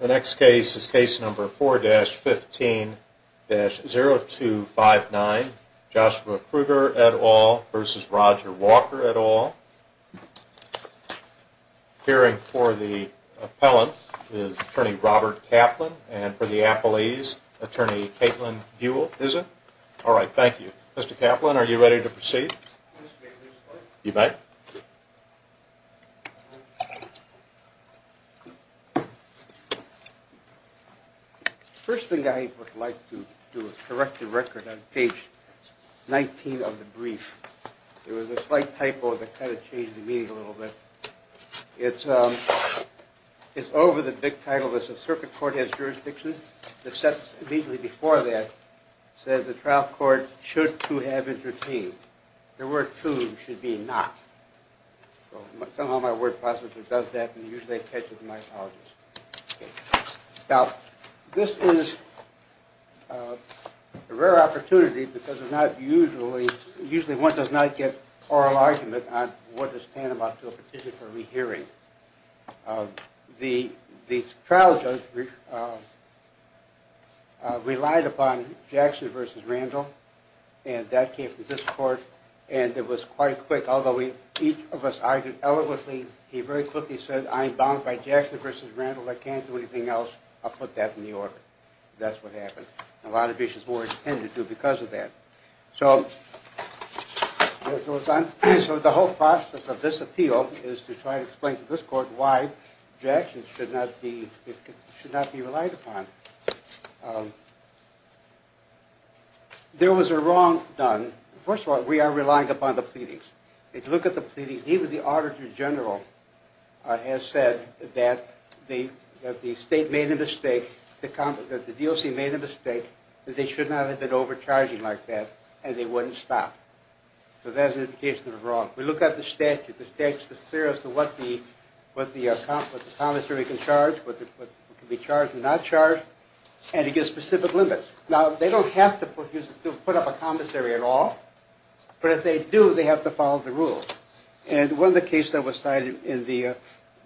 The next case is case number 4-15-0259, Joshua Kruger et al. v. Roger Walker et al. Appearing for the appellant is Attorney Robert Kaplan, and for the appellees, Attorney Caitlin Buell is it? All right, thank you. Mr. Kaplan, are you ready to proceed? You may. First thing I would like to do is correct the record on page 19 of the brief. There was a slight typo that kind of changed the meeting a little bit. It's over the big title that says circuit court has jurisdiction. The sentence immediately before that says the trial court should to have interceded. The word to should be not. Somehow my word processor does that, and usually I catch it in my apologies. Now, this is a rare opportunity because usually one does not get oral argument on what to stand about to a petition for rehearing. The trial judge relied upon Jackson v. Randall, and that came from this court, and it was quite quick. Although each of us argued eloquently, he very quickly said, I'm bound by Jackson v. Randall. I can't do anything else. I'll put that in the order. That's what happened, and a lot of issues were intended to because of that. So the whole process of this appeal is to try to explain to this court why Jackson should not be relied upon. There was a wrong done. First of all, we are relying upon the pleadings. If you look at the pleadings, even the auditor general has said that the state made a mistake, that the DOC made a mistake, that they should not have been overcharging like that, and they wouldn't stop. So that's an indication of a wrong. We look at the statute. The statute is clear as to what the commissary can charge, what can be charged and not charged, and it gives specific limits. Now, they don't have to put up a commissary at all, but if they do, they have to follow the rules. And one of the cases that was cited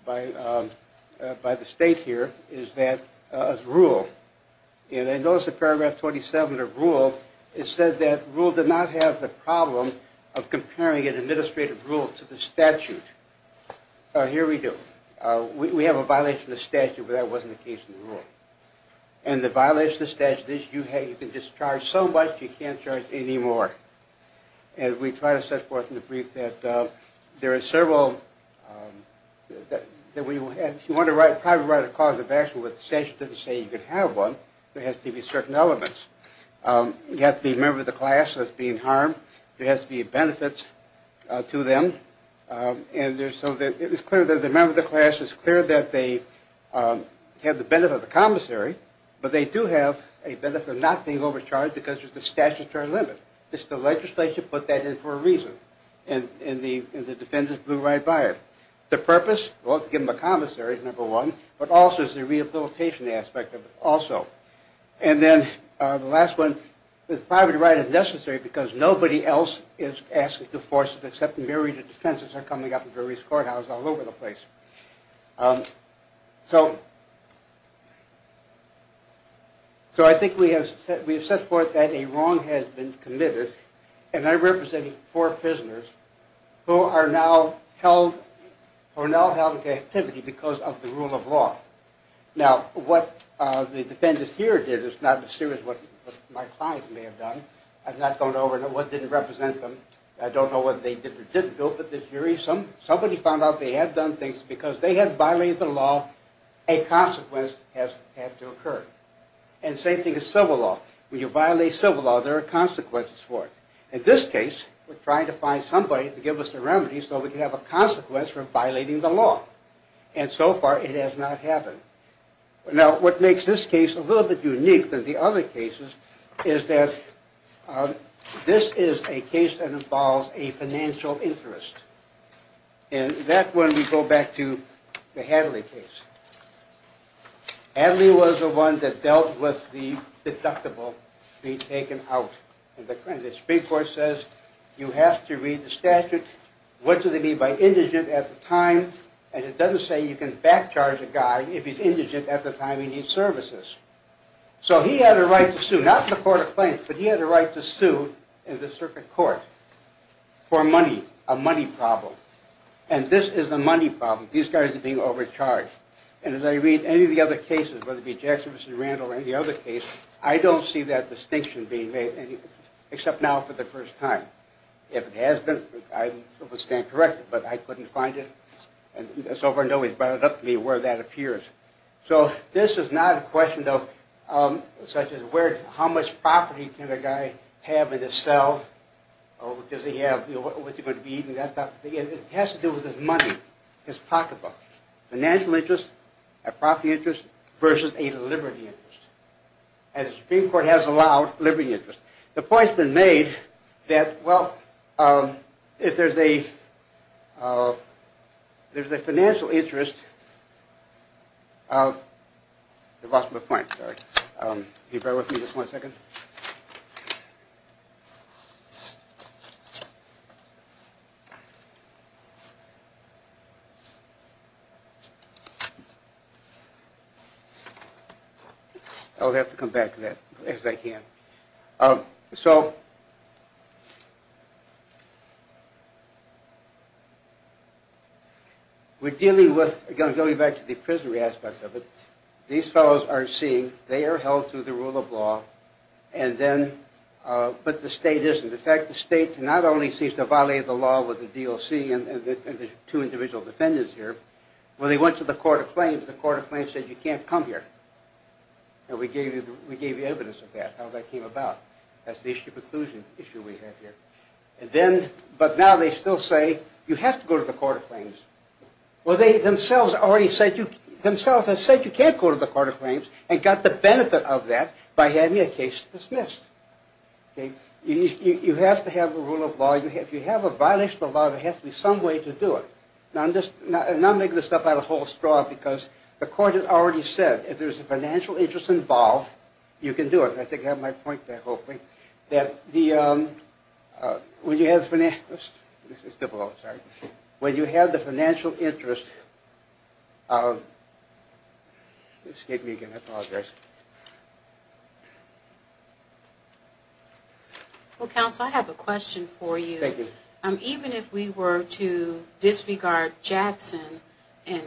by the state here is that of rule. Notice in paragraph 27 of rule, it says that rule did not have the problem of comparing an administrative rule to the statute. Here we do. We have a violation of the statute, but that wasn't the case in the rule. And the violation of the statute is you can discharge so much, you can't charge any more. And we try to set forth in the brief that there are several that we want to write, probably write a cause of action, but the statute doesn't say you can have one. There has to be certain elements. You have to be a member of the class that's being harmed. There has to be benefits to them. And so it is clear that the member of the class, it's clear that they have the benefit of the commissary, but they do have a benefit of not being overcharged because there's a statutory limit. It's the legislature put that in for a reason, and the defense is blew right by it. The purpose, well, to give them a commissary is number one, but also is the rehabilitation aspect of it also. And then the last one, the private right is necessary because nobody else is asking to force it, except a myriad of defenses are coming up in various courthouses all over the place. So I think we have set forth that a wrong has been committed, and I'm representing four prisoners who are now held in captivity because of the rule of law. Now, what the defendants here did is not as serious as what my clients may have done. I'm not going over what didn't represent them. I don't know what they did or didn't do. Somebody found out they had done things because they had violated the law. A consequence has had to occur. And the same thing with civil law. When you violate civil law, there are consequences for it. In this case, we're trying to find somebody to give us a remedy so we can have a consequence for violating the law. And so far, it has not happened. Now, what makes this case a little bit unique than the other cases is that this is a case that involves a financial interest. And that one we go back to the Hadley case. Hadley was the one that dealt with the deductible being taken out. And the Supreme Court says you have to read the statute. What do they mean by indigent at the time? And it doesn't say you can backcharge a guy if he's indigent at the time he needs services. So he had a right to sue. Not in the court of claims, but he had a right to sue in the circuit court for money, a money problem. And this is the money problem. These guys are being overcharged. And as I read any of the other cases, whether it be Jackson v. Randall or any other case, I don't see that distinction being made, except now for the first time. If it has been, I would stand corrected, but I couldn't find it. And so far, nobody's brought it up to me where that appears. So this is not a question, though, such as where, how much property can a guy have in his cell? Or does he have, you know, what's he going to be eating, that type of thing. It has to do with his money, his pocketbook. Financial interest, a property interest versus a liberty interest. And the Supreme Court has allowed liberty interest. The point's been made that, well, if there's a financial interest, I've lost my point, sorry. Can you bear with me just one second? I'll have to come back to that as I can. So we're dealing with, again, going back to the prisoner aspect of it. These fellows are seen, they are held to the rule of law, and then, but the state isn't. In fact, the state not only seems to violate the law with the DOC and the two individual defendants here. When they went to the court of claims, the court of claims said, you can't come here. And we gave you evidence of that, how that came about. That's the issue of inclusion issue we have here. And then, but now they still say, you have to go to the court of claims. Well, they themselves have said you can't go to the court of claims and got the benefit of that by having a case dismissed. You have to have a rule of law. If you have a violation of the law, there has to be some way to do it. Now I'm making this up out of a whole straw because the court had already said, if there's a financial interest involved, you can do it. I think I have my point there, hopefully. When you have the financial interest, Well, counsel, I have a question for you. Even if we were to disregard Jackson and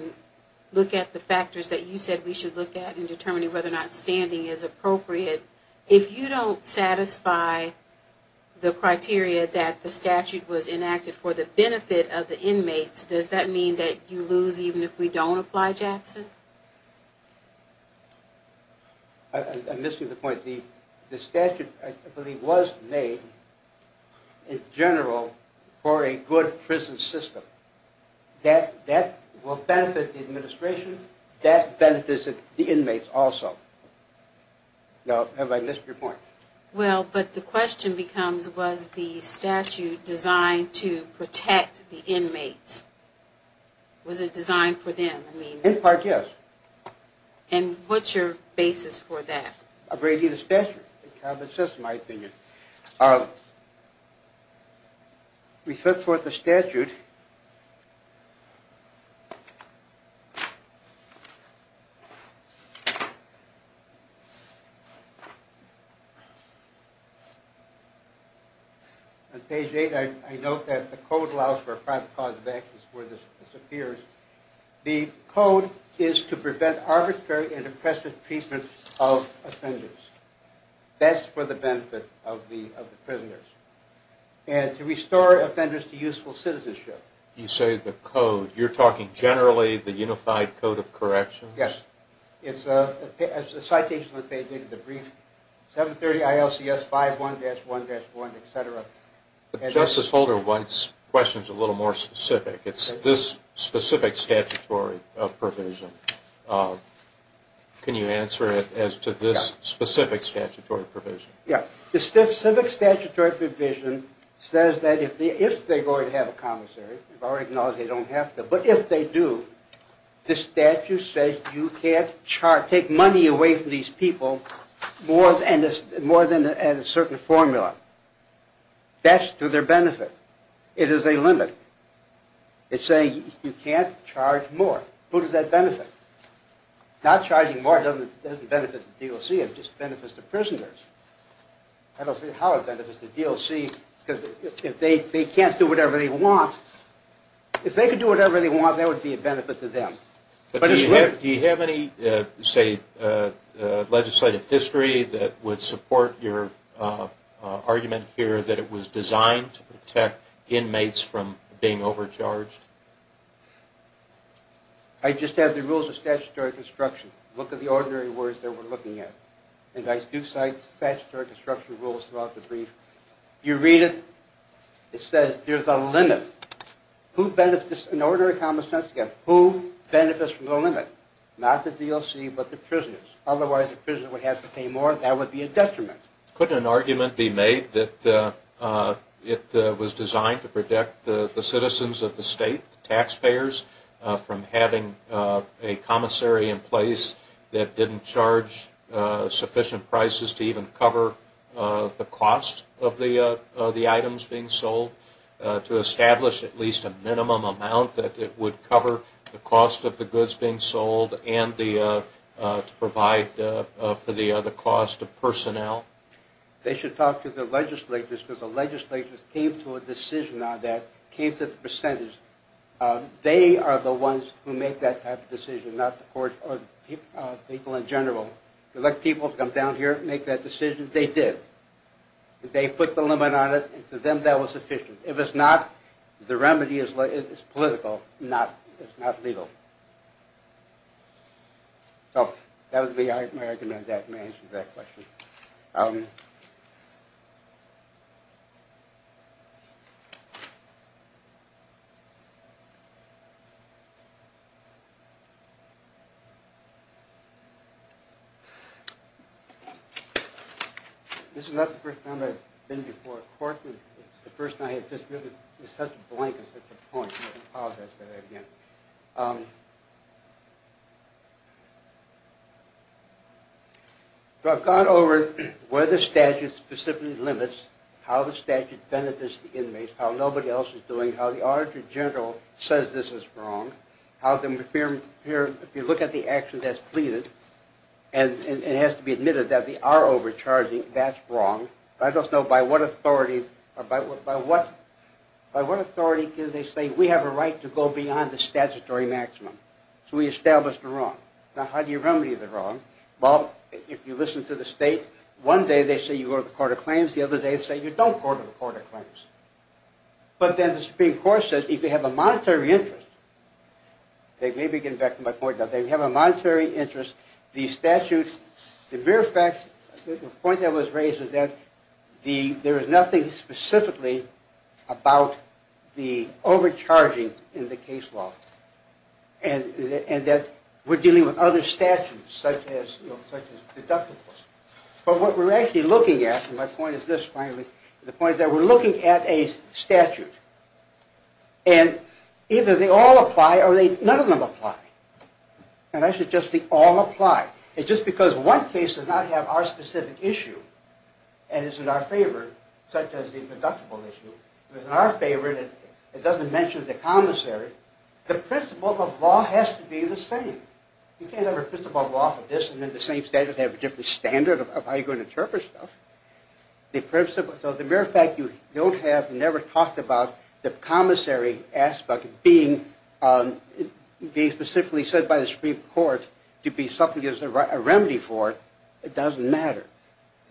look at the factors that you said we should look at in determining whether or not standing is appropriate, if you don't satisfy the criteria that the statute was enacted for the benefit of the inmates, does that mean that you lose even if we don't apply Jackson? I'm missing the point. The statute, I believe, was made in general for a good prison system. That will benefit the administration. That benefits the inmates also. Now, have I missed your point? Well, but the question becomes, was the statute designed to protect the inmates? Was it designed for them? In part, yes. And what's your basis for that? I've read you the statute. That's just my opinion. We set forth the statute. On page 8, I note that the code allows for a private cause of actions where this appears. The code is to prevent arbitrary and impressive treatment of offenders. That's for the benefit of the prisoners. And to restore offenders to useful citizenship. You say the code. You're talking generally the Unified Code of Corrections? Yes. It's a citation that they did in the brief. 730 ILCS 51-1-1, et cetera. Justice Holder wants questions a little more specific. It's this specific statutory provision. Can you answer it as to this specific statutory provision? Yes. This specific statutory provision says that if they're going to have a commissary, we've already acknowledged they don't have to, but if they do, this statute says you can't charge, take money away from these people more than a certain formula. That's to their benefit. It is a limit. It's saying you can't charge more. Who does that benefit? Not charging more doesn't benefit the DOC. It just benefits the prisoners. I don't see how it benefits the DOC because if they can't do whatever they want, if they can do whatever they want, that would be a benefit to them. Do you have any, say, legislative history that would support your argument here that it was designed to protect inmates from being overcharged? I just have the rules of statutory construction. Look at the ordinary words that we're looking at. I do cite statutory construction rules throughout the brief. You read it. It says there's a limit. In order of common sense, who benefits from the limit? Not the DOC, but the prisoners. Otherwise, the prisoners would have to pay more, and that would be a detriment. Couldn't an argument be made that it was designed to protect the citizens of the state, the taxpayers, from having a commissary in place that didn't charge sufficient prices to even cover the cost of the items being sold, to establish at least a minimum amount that it would cover the cost of the goods being sold and to provide for the cost of personnel? They should talk to the legislators because the legislators came to a decision on that, came to the percentage. They are the ones who make that type of decision, not the people in general. They let people come down here and make that decision. They did. They put the limit on it. To them, that was sufficient. If it's not, the remedy is political, not legal. So that would be my argument. That answers that question. This is not the first time I've been before a court, and it's the first time I have just given such a blank and such a point. I apologize for that again. So I've gone over where the statute specifically limits, how the statute benefits the inmates, how nobody else is doing, how the auditor general says this is wrong, if you look at the action that's pleaded, and it has to be admitted that they are overcharging, that's wrong. I just know by what authority can they say we have a right to go beyond the statutory maximum? So we establish the wrong. Now, how do you remedy the wrong? Well, if you listen to the state, one day they say you go to the court of claims, the other day they say you don't go to the court of claims. But then the Supreme Court says if they have a monetary interest, they may be getting back to my point now, if they have a monetary interest, the statute, the mere fact, the point that was raised is that there is nothing specifically about the overcharging in the case law, and that we're dealing with other statutes such as deductibles. But what we're actually looking at, and my point is this finally, the point is that we're looking at a statute, and either they all apply or none of them apply. And I suggest they all apply. It's just because one case does not have our specific issue, and is in our favor, such as the deductible issue. If it's in our favor, it doesn't mention the commissary. The principle of law has to be the same. You can't have a principle of law for this, and then the same statute has a different standard of how you're going to interpret stuff. So the mere fact you don't have, never talked about, the commissary aspect being specifically said by the Supreme Court to be something there's a remedy for, it doesn't matter.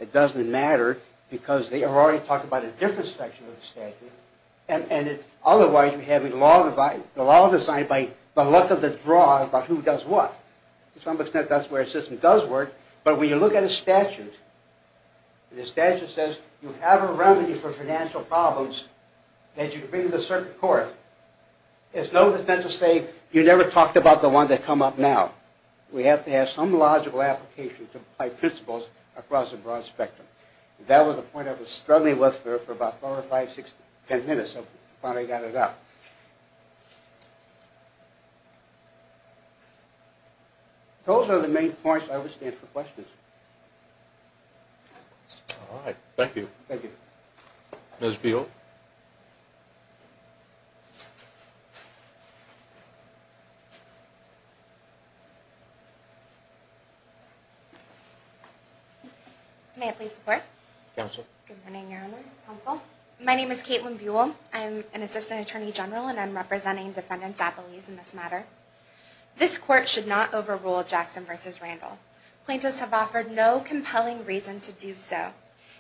It doesn't matter because they are already talking about a different section of the statute, and otherwise we have a law designed by the luck of the draw about who does what. To some extent that's where a system does work, but when you look at a statute, and the statute says you have a remedy for financial problems, that you bring to the circuit court, there's no defense to say you never talked about the one that come up now. We have to have some logical application to apply principles across a broad spectrum. That was a point I was struggling with for about four or five, six, ten minutes before I got it out. Those are the main parts I would stand for questions. All right. Thank you. Thank you. Ms. Buell. May I please report? Counsel. Good morning, Your Honors. I am an assistant attorney general with the U.S. Department of Justice. This court should not overrule Jackson v. Randall. Plaintiffs have offered no compelling reason to do so,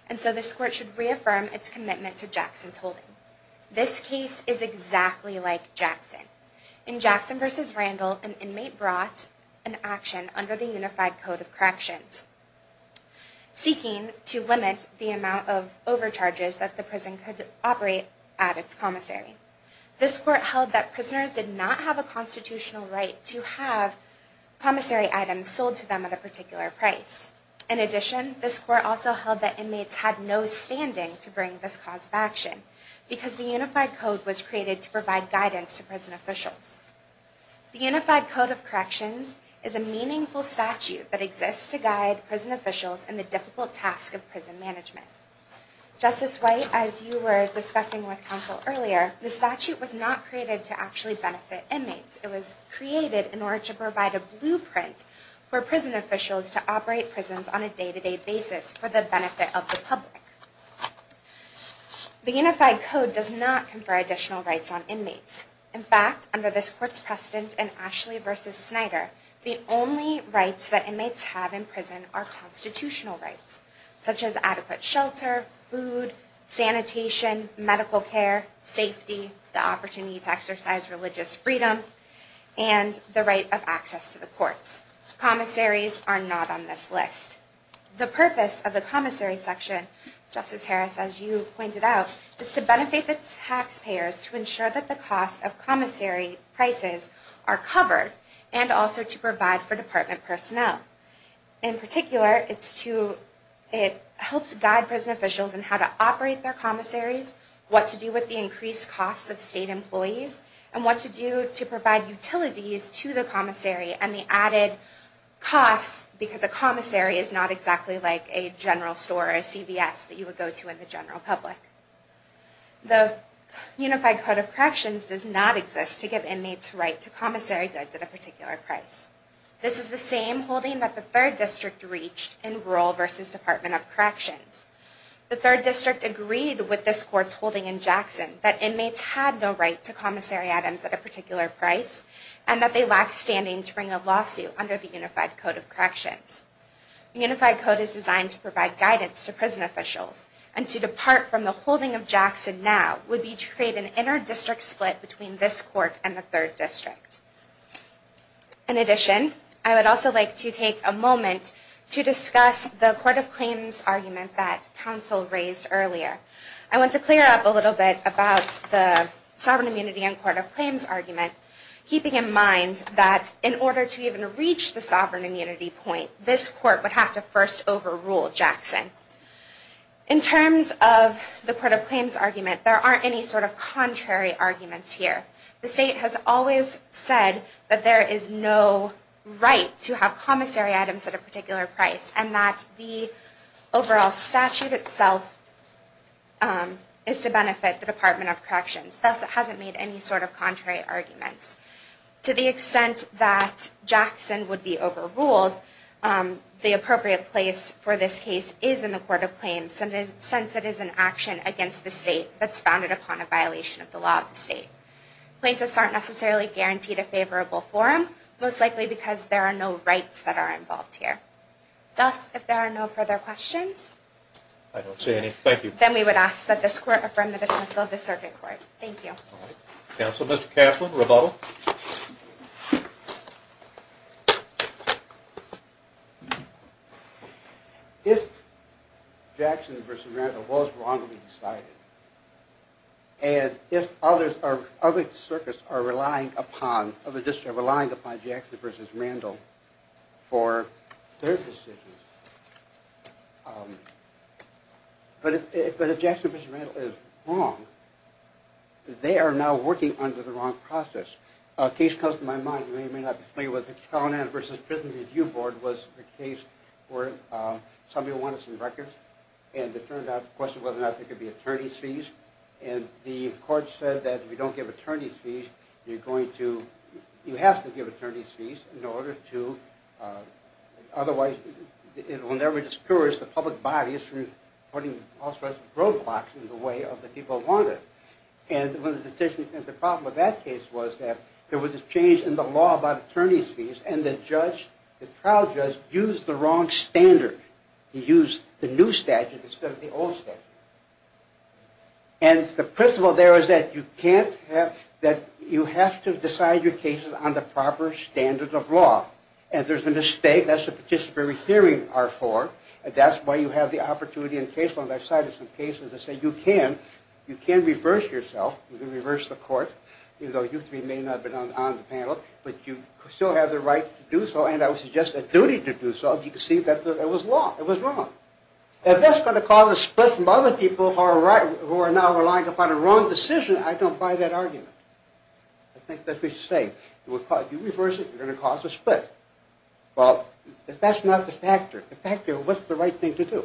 and so this court should reaffirm its commitment to Jackson's holding. This case is exactly like Jackson. In Jackson v. Randall, an inmate brought an action under the Unified Code of Corrections seeking to limit the amount of overcharges that the prison could operate at its commissary. This court held that prisoners did not have a constitutional right to have commissary items sold to them at a particular price. In addition, this court also held that inmates had no standing to bring this cause of action because the Unified Code was created to provide guidance to prison officials. The Unified Code of Corrections is a meaningful statute that exists to guide prison officials in the difficult task of prison management. Justice White, as you were discussing with counsel earlier, the statute was not created to actually benefit inmates. It was created in order to provide a blueprint for prison officials to operate prisons on a day-to-day basis for the benefit of the public. The Unified Code does not confer additional rights on inmates. In fact, under this court's precedent in Ashley v. Snyder, the only rights that inmates have in prison are constitutional rights, such as adequate shelter, food, sanitation, medical care, safety, the opportunity to exercise religious freedom, and the right of access to the courts. Commissaries are not on this list. The purpose of the commissary section, Justice Harris, as you pointed out, is to benefit the taxpayers to ensure that the cost of commissary prices are covered and also to provide for department personnel. In particular, it helps guide prison officials in how to operate their commissaries, what to do with the increased costs of state employees, and what to do to provide utilities to the commissary and the added costs, because a commissary is not exactly like a general store or a CVS that you would go to in the general public. The Unified Code of Corrections does not exist to give inmates right to commissary goods at a particular price. This is the same holding that the 3rd District reached in Rural v. Department of Corrections. The 3rd District agreed with this court's holding in Jackson that inmates had no right to commissary items at a particular price and that they lacked standing to bring a lawsuit under the Unified Code of Corrections. The Unified Code is designed to provide guidance to prison officials, and to depart from the holding of Jackson now would be to create an inter-district split between this court and the 3rd District. In addition, I would also like to take a moment to discuss the Court of Claims argument that counsel raised earlier. I want to clear up a little bit about the Sovereign Immunity and Court of Claims argument, keeping in mind that in order to even reach the Sovereign Immunity point, this court would have to first overrule Jackson. In terms of the Court of Claims argument, there aren't any sort of contrary arguments here. The State has always said that there is no right to have commissary items at a particular price and that the overall statute itself is to benefit the Department of Corrections. Thus, it hasn't made any sort of contrary arguments. To the extent that Jackson would be overruled, the appropriate place for this case is in the Court of Claims since it is an action against the State that's founded upon a violation of the law of the State. Plaintiffs aren't necessarily guaranteed a favorable forum, most likely because there are no rights that are involved here. Thus, if there are no further questions, I don't see any. Thank you. then we would ask that this Court affirm the dismissal of the Circuit Court. Thank you. Counsel, Mr. Kaslin, rebuttal? If Jackson v. Randall was wrongly decided, and if other circuits are relying upon Jackson v. Randall for their decisions, but if Jackson v. Randall is wrong, they are now working under the wrong process. A case comes to my mind, and I may or may not have explained it, but the Carolina versus Prison Review Board was a case where somebody wanted some records and it turned out the question was whether or not there could be attorney's fees, and the Court said that if you don't give attorney's fees, you have to give attorney's fees in order to, otherwise it will never discourage the public body from putting all sorts of roadblocks in the way that people wanted. And the problem with that case was that there was a change in the law about attorney's fees and the trial judge used the wrong standard. He used the new statute instead of the old statute. And the principle there is that you have to decide your cases on the proper standard of law. And if there's a mistake, that's what participatory hearings are for. And that's why you have the opportunity in case law, and I've cited some cases that say you can reverse yourself, you can reverse the Court, even though you three may not have been on the panel, but you still have the right to do so, and I would suggest a duty to do so, if you can see that it was wrong. If that's going to cause a split from other people who are now relying upon a wrong decision, I don't buy that argument. I think that we should say, if you reverse it, you're going to cause a split. Well, if that's not the factor, what's the right thing to do?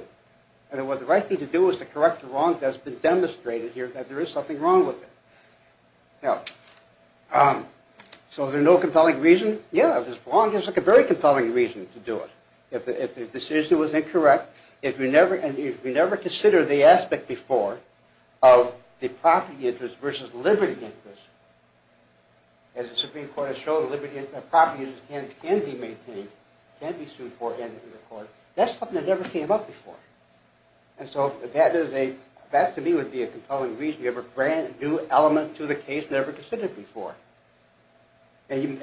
In other words, the right thing to do is to correct the wrong that's been demonstrated here, that there is something wrong with it. So is there no compelling reason? Yeah, if it's wrong, there's a very compelling reason to do it. If the decision was incorrect, if you never consider the aspect before of the property interest versus the liberty interest. As the Supreme Court has shown, the liberty property interest can be maintained, can be sued for, handed to the Court. That's something that never came up before. And so that, to me, would be a compelling reason. You have a brand new element to the case never considered before. And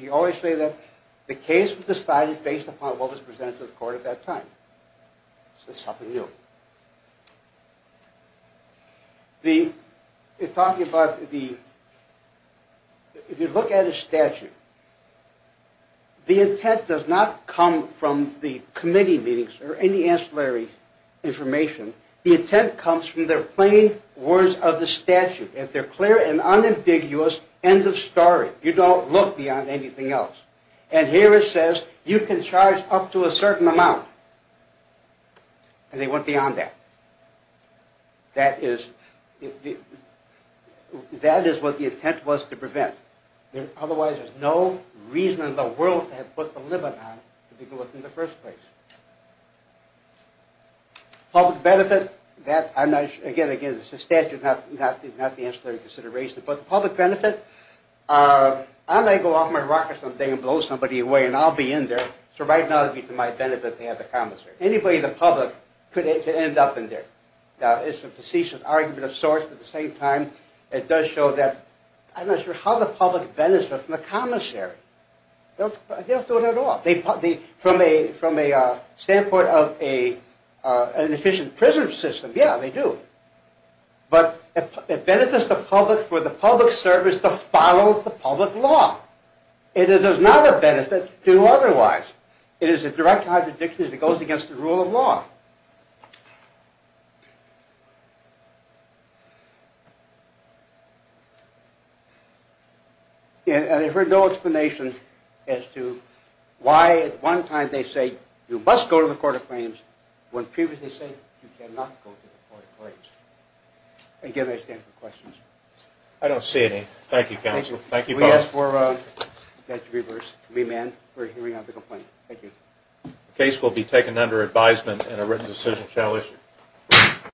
you always say that the case was decided based upon what was presented to the Court at that time. So it's something new. If you look at a statute, the intent does not come from the committee meetings or any ancillary information. The intent comes from the plain words of the statute. It's a clear and unambiguous end of story. You don't look beyond anything else. And here it says, you can charge up to a certain amount. And they went beyond that. That is what the intent was to prevent. Otherwise, there's no reason in the world to have put the limit on to do it in the first place. Public benefit. Again, it's a statute, not the ancillary consideration. But the public benefit. I'm going to go off my rocket someday and blow somebody away, and I'll be in there. So right now, it would be to my benefit to have the commissary. Anybody in the public could end up in there. Now, it's a facetious argument of sorts. At the same time, it does show that I'm not sure how the public benefits from the commissary. They don't do it at all. From a standpoint of an efficient prison system, yeah, they do. But it benefits the public for the public service to follow the public law. It does not benefit to do otherwise. It is a direct contradiction as it goes against the rule of law. And I've heard no explanation as to why at one time they say you must go to the court of claims, when previously they say you cannot go to the court of claims. Again, I stand for questions. I don't see any. Thank you, counsel. Thank you, Paul. Can we ask for that to be reversed, to be amended for hearing on the complaint? Thank you. The case will be taken under advisement and a written decision shall issue.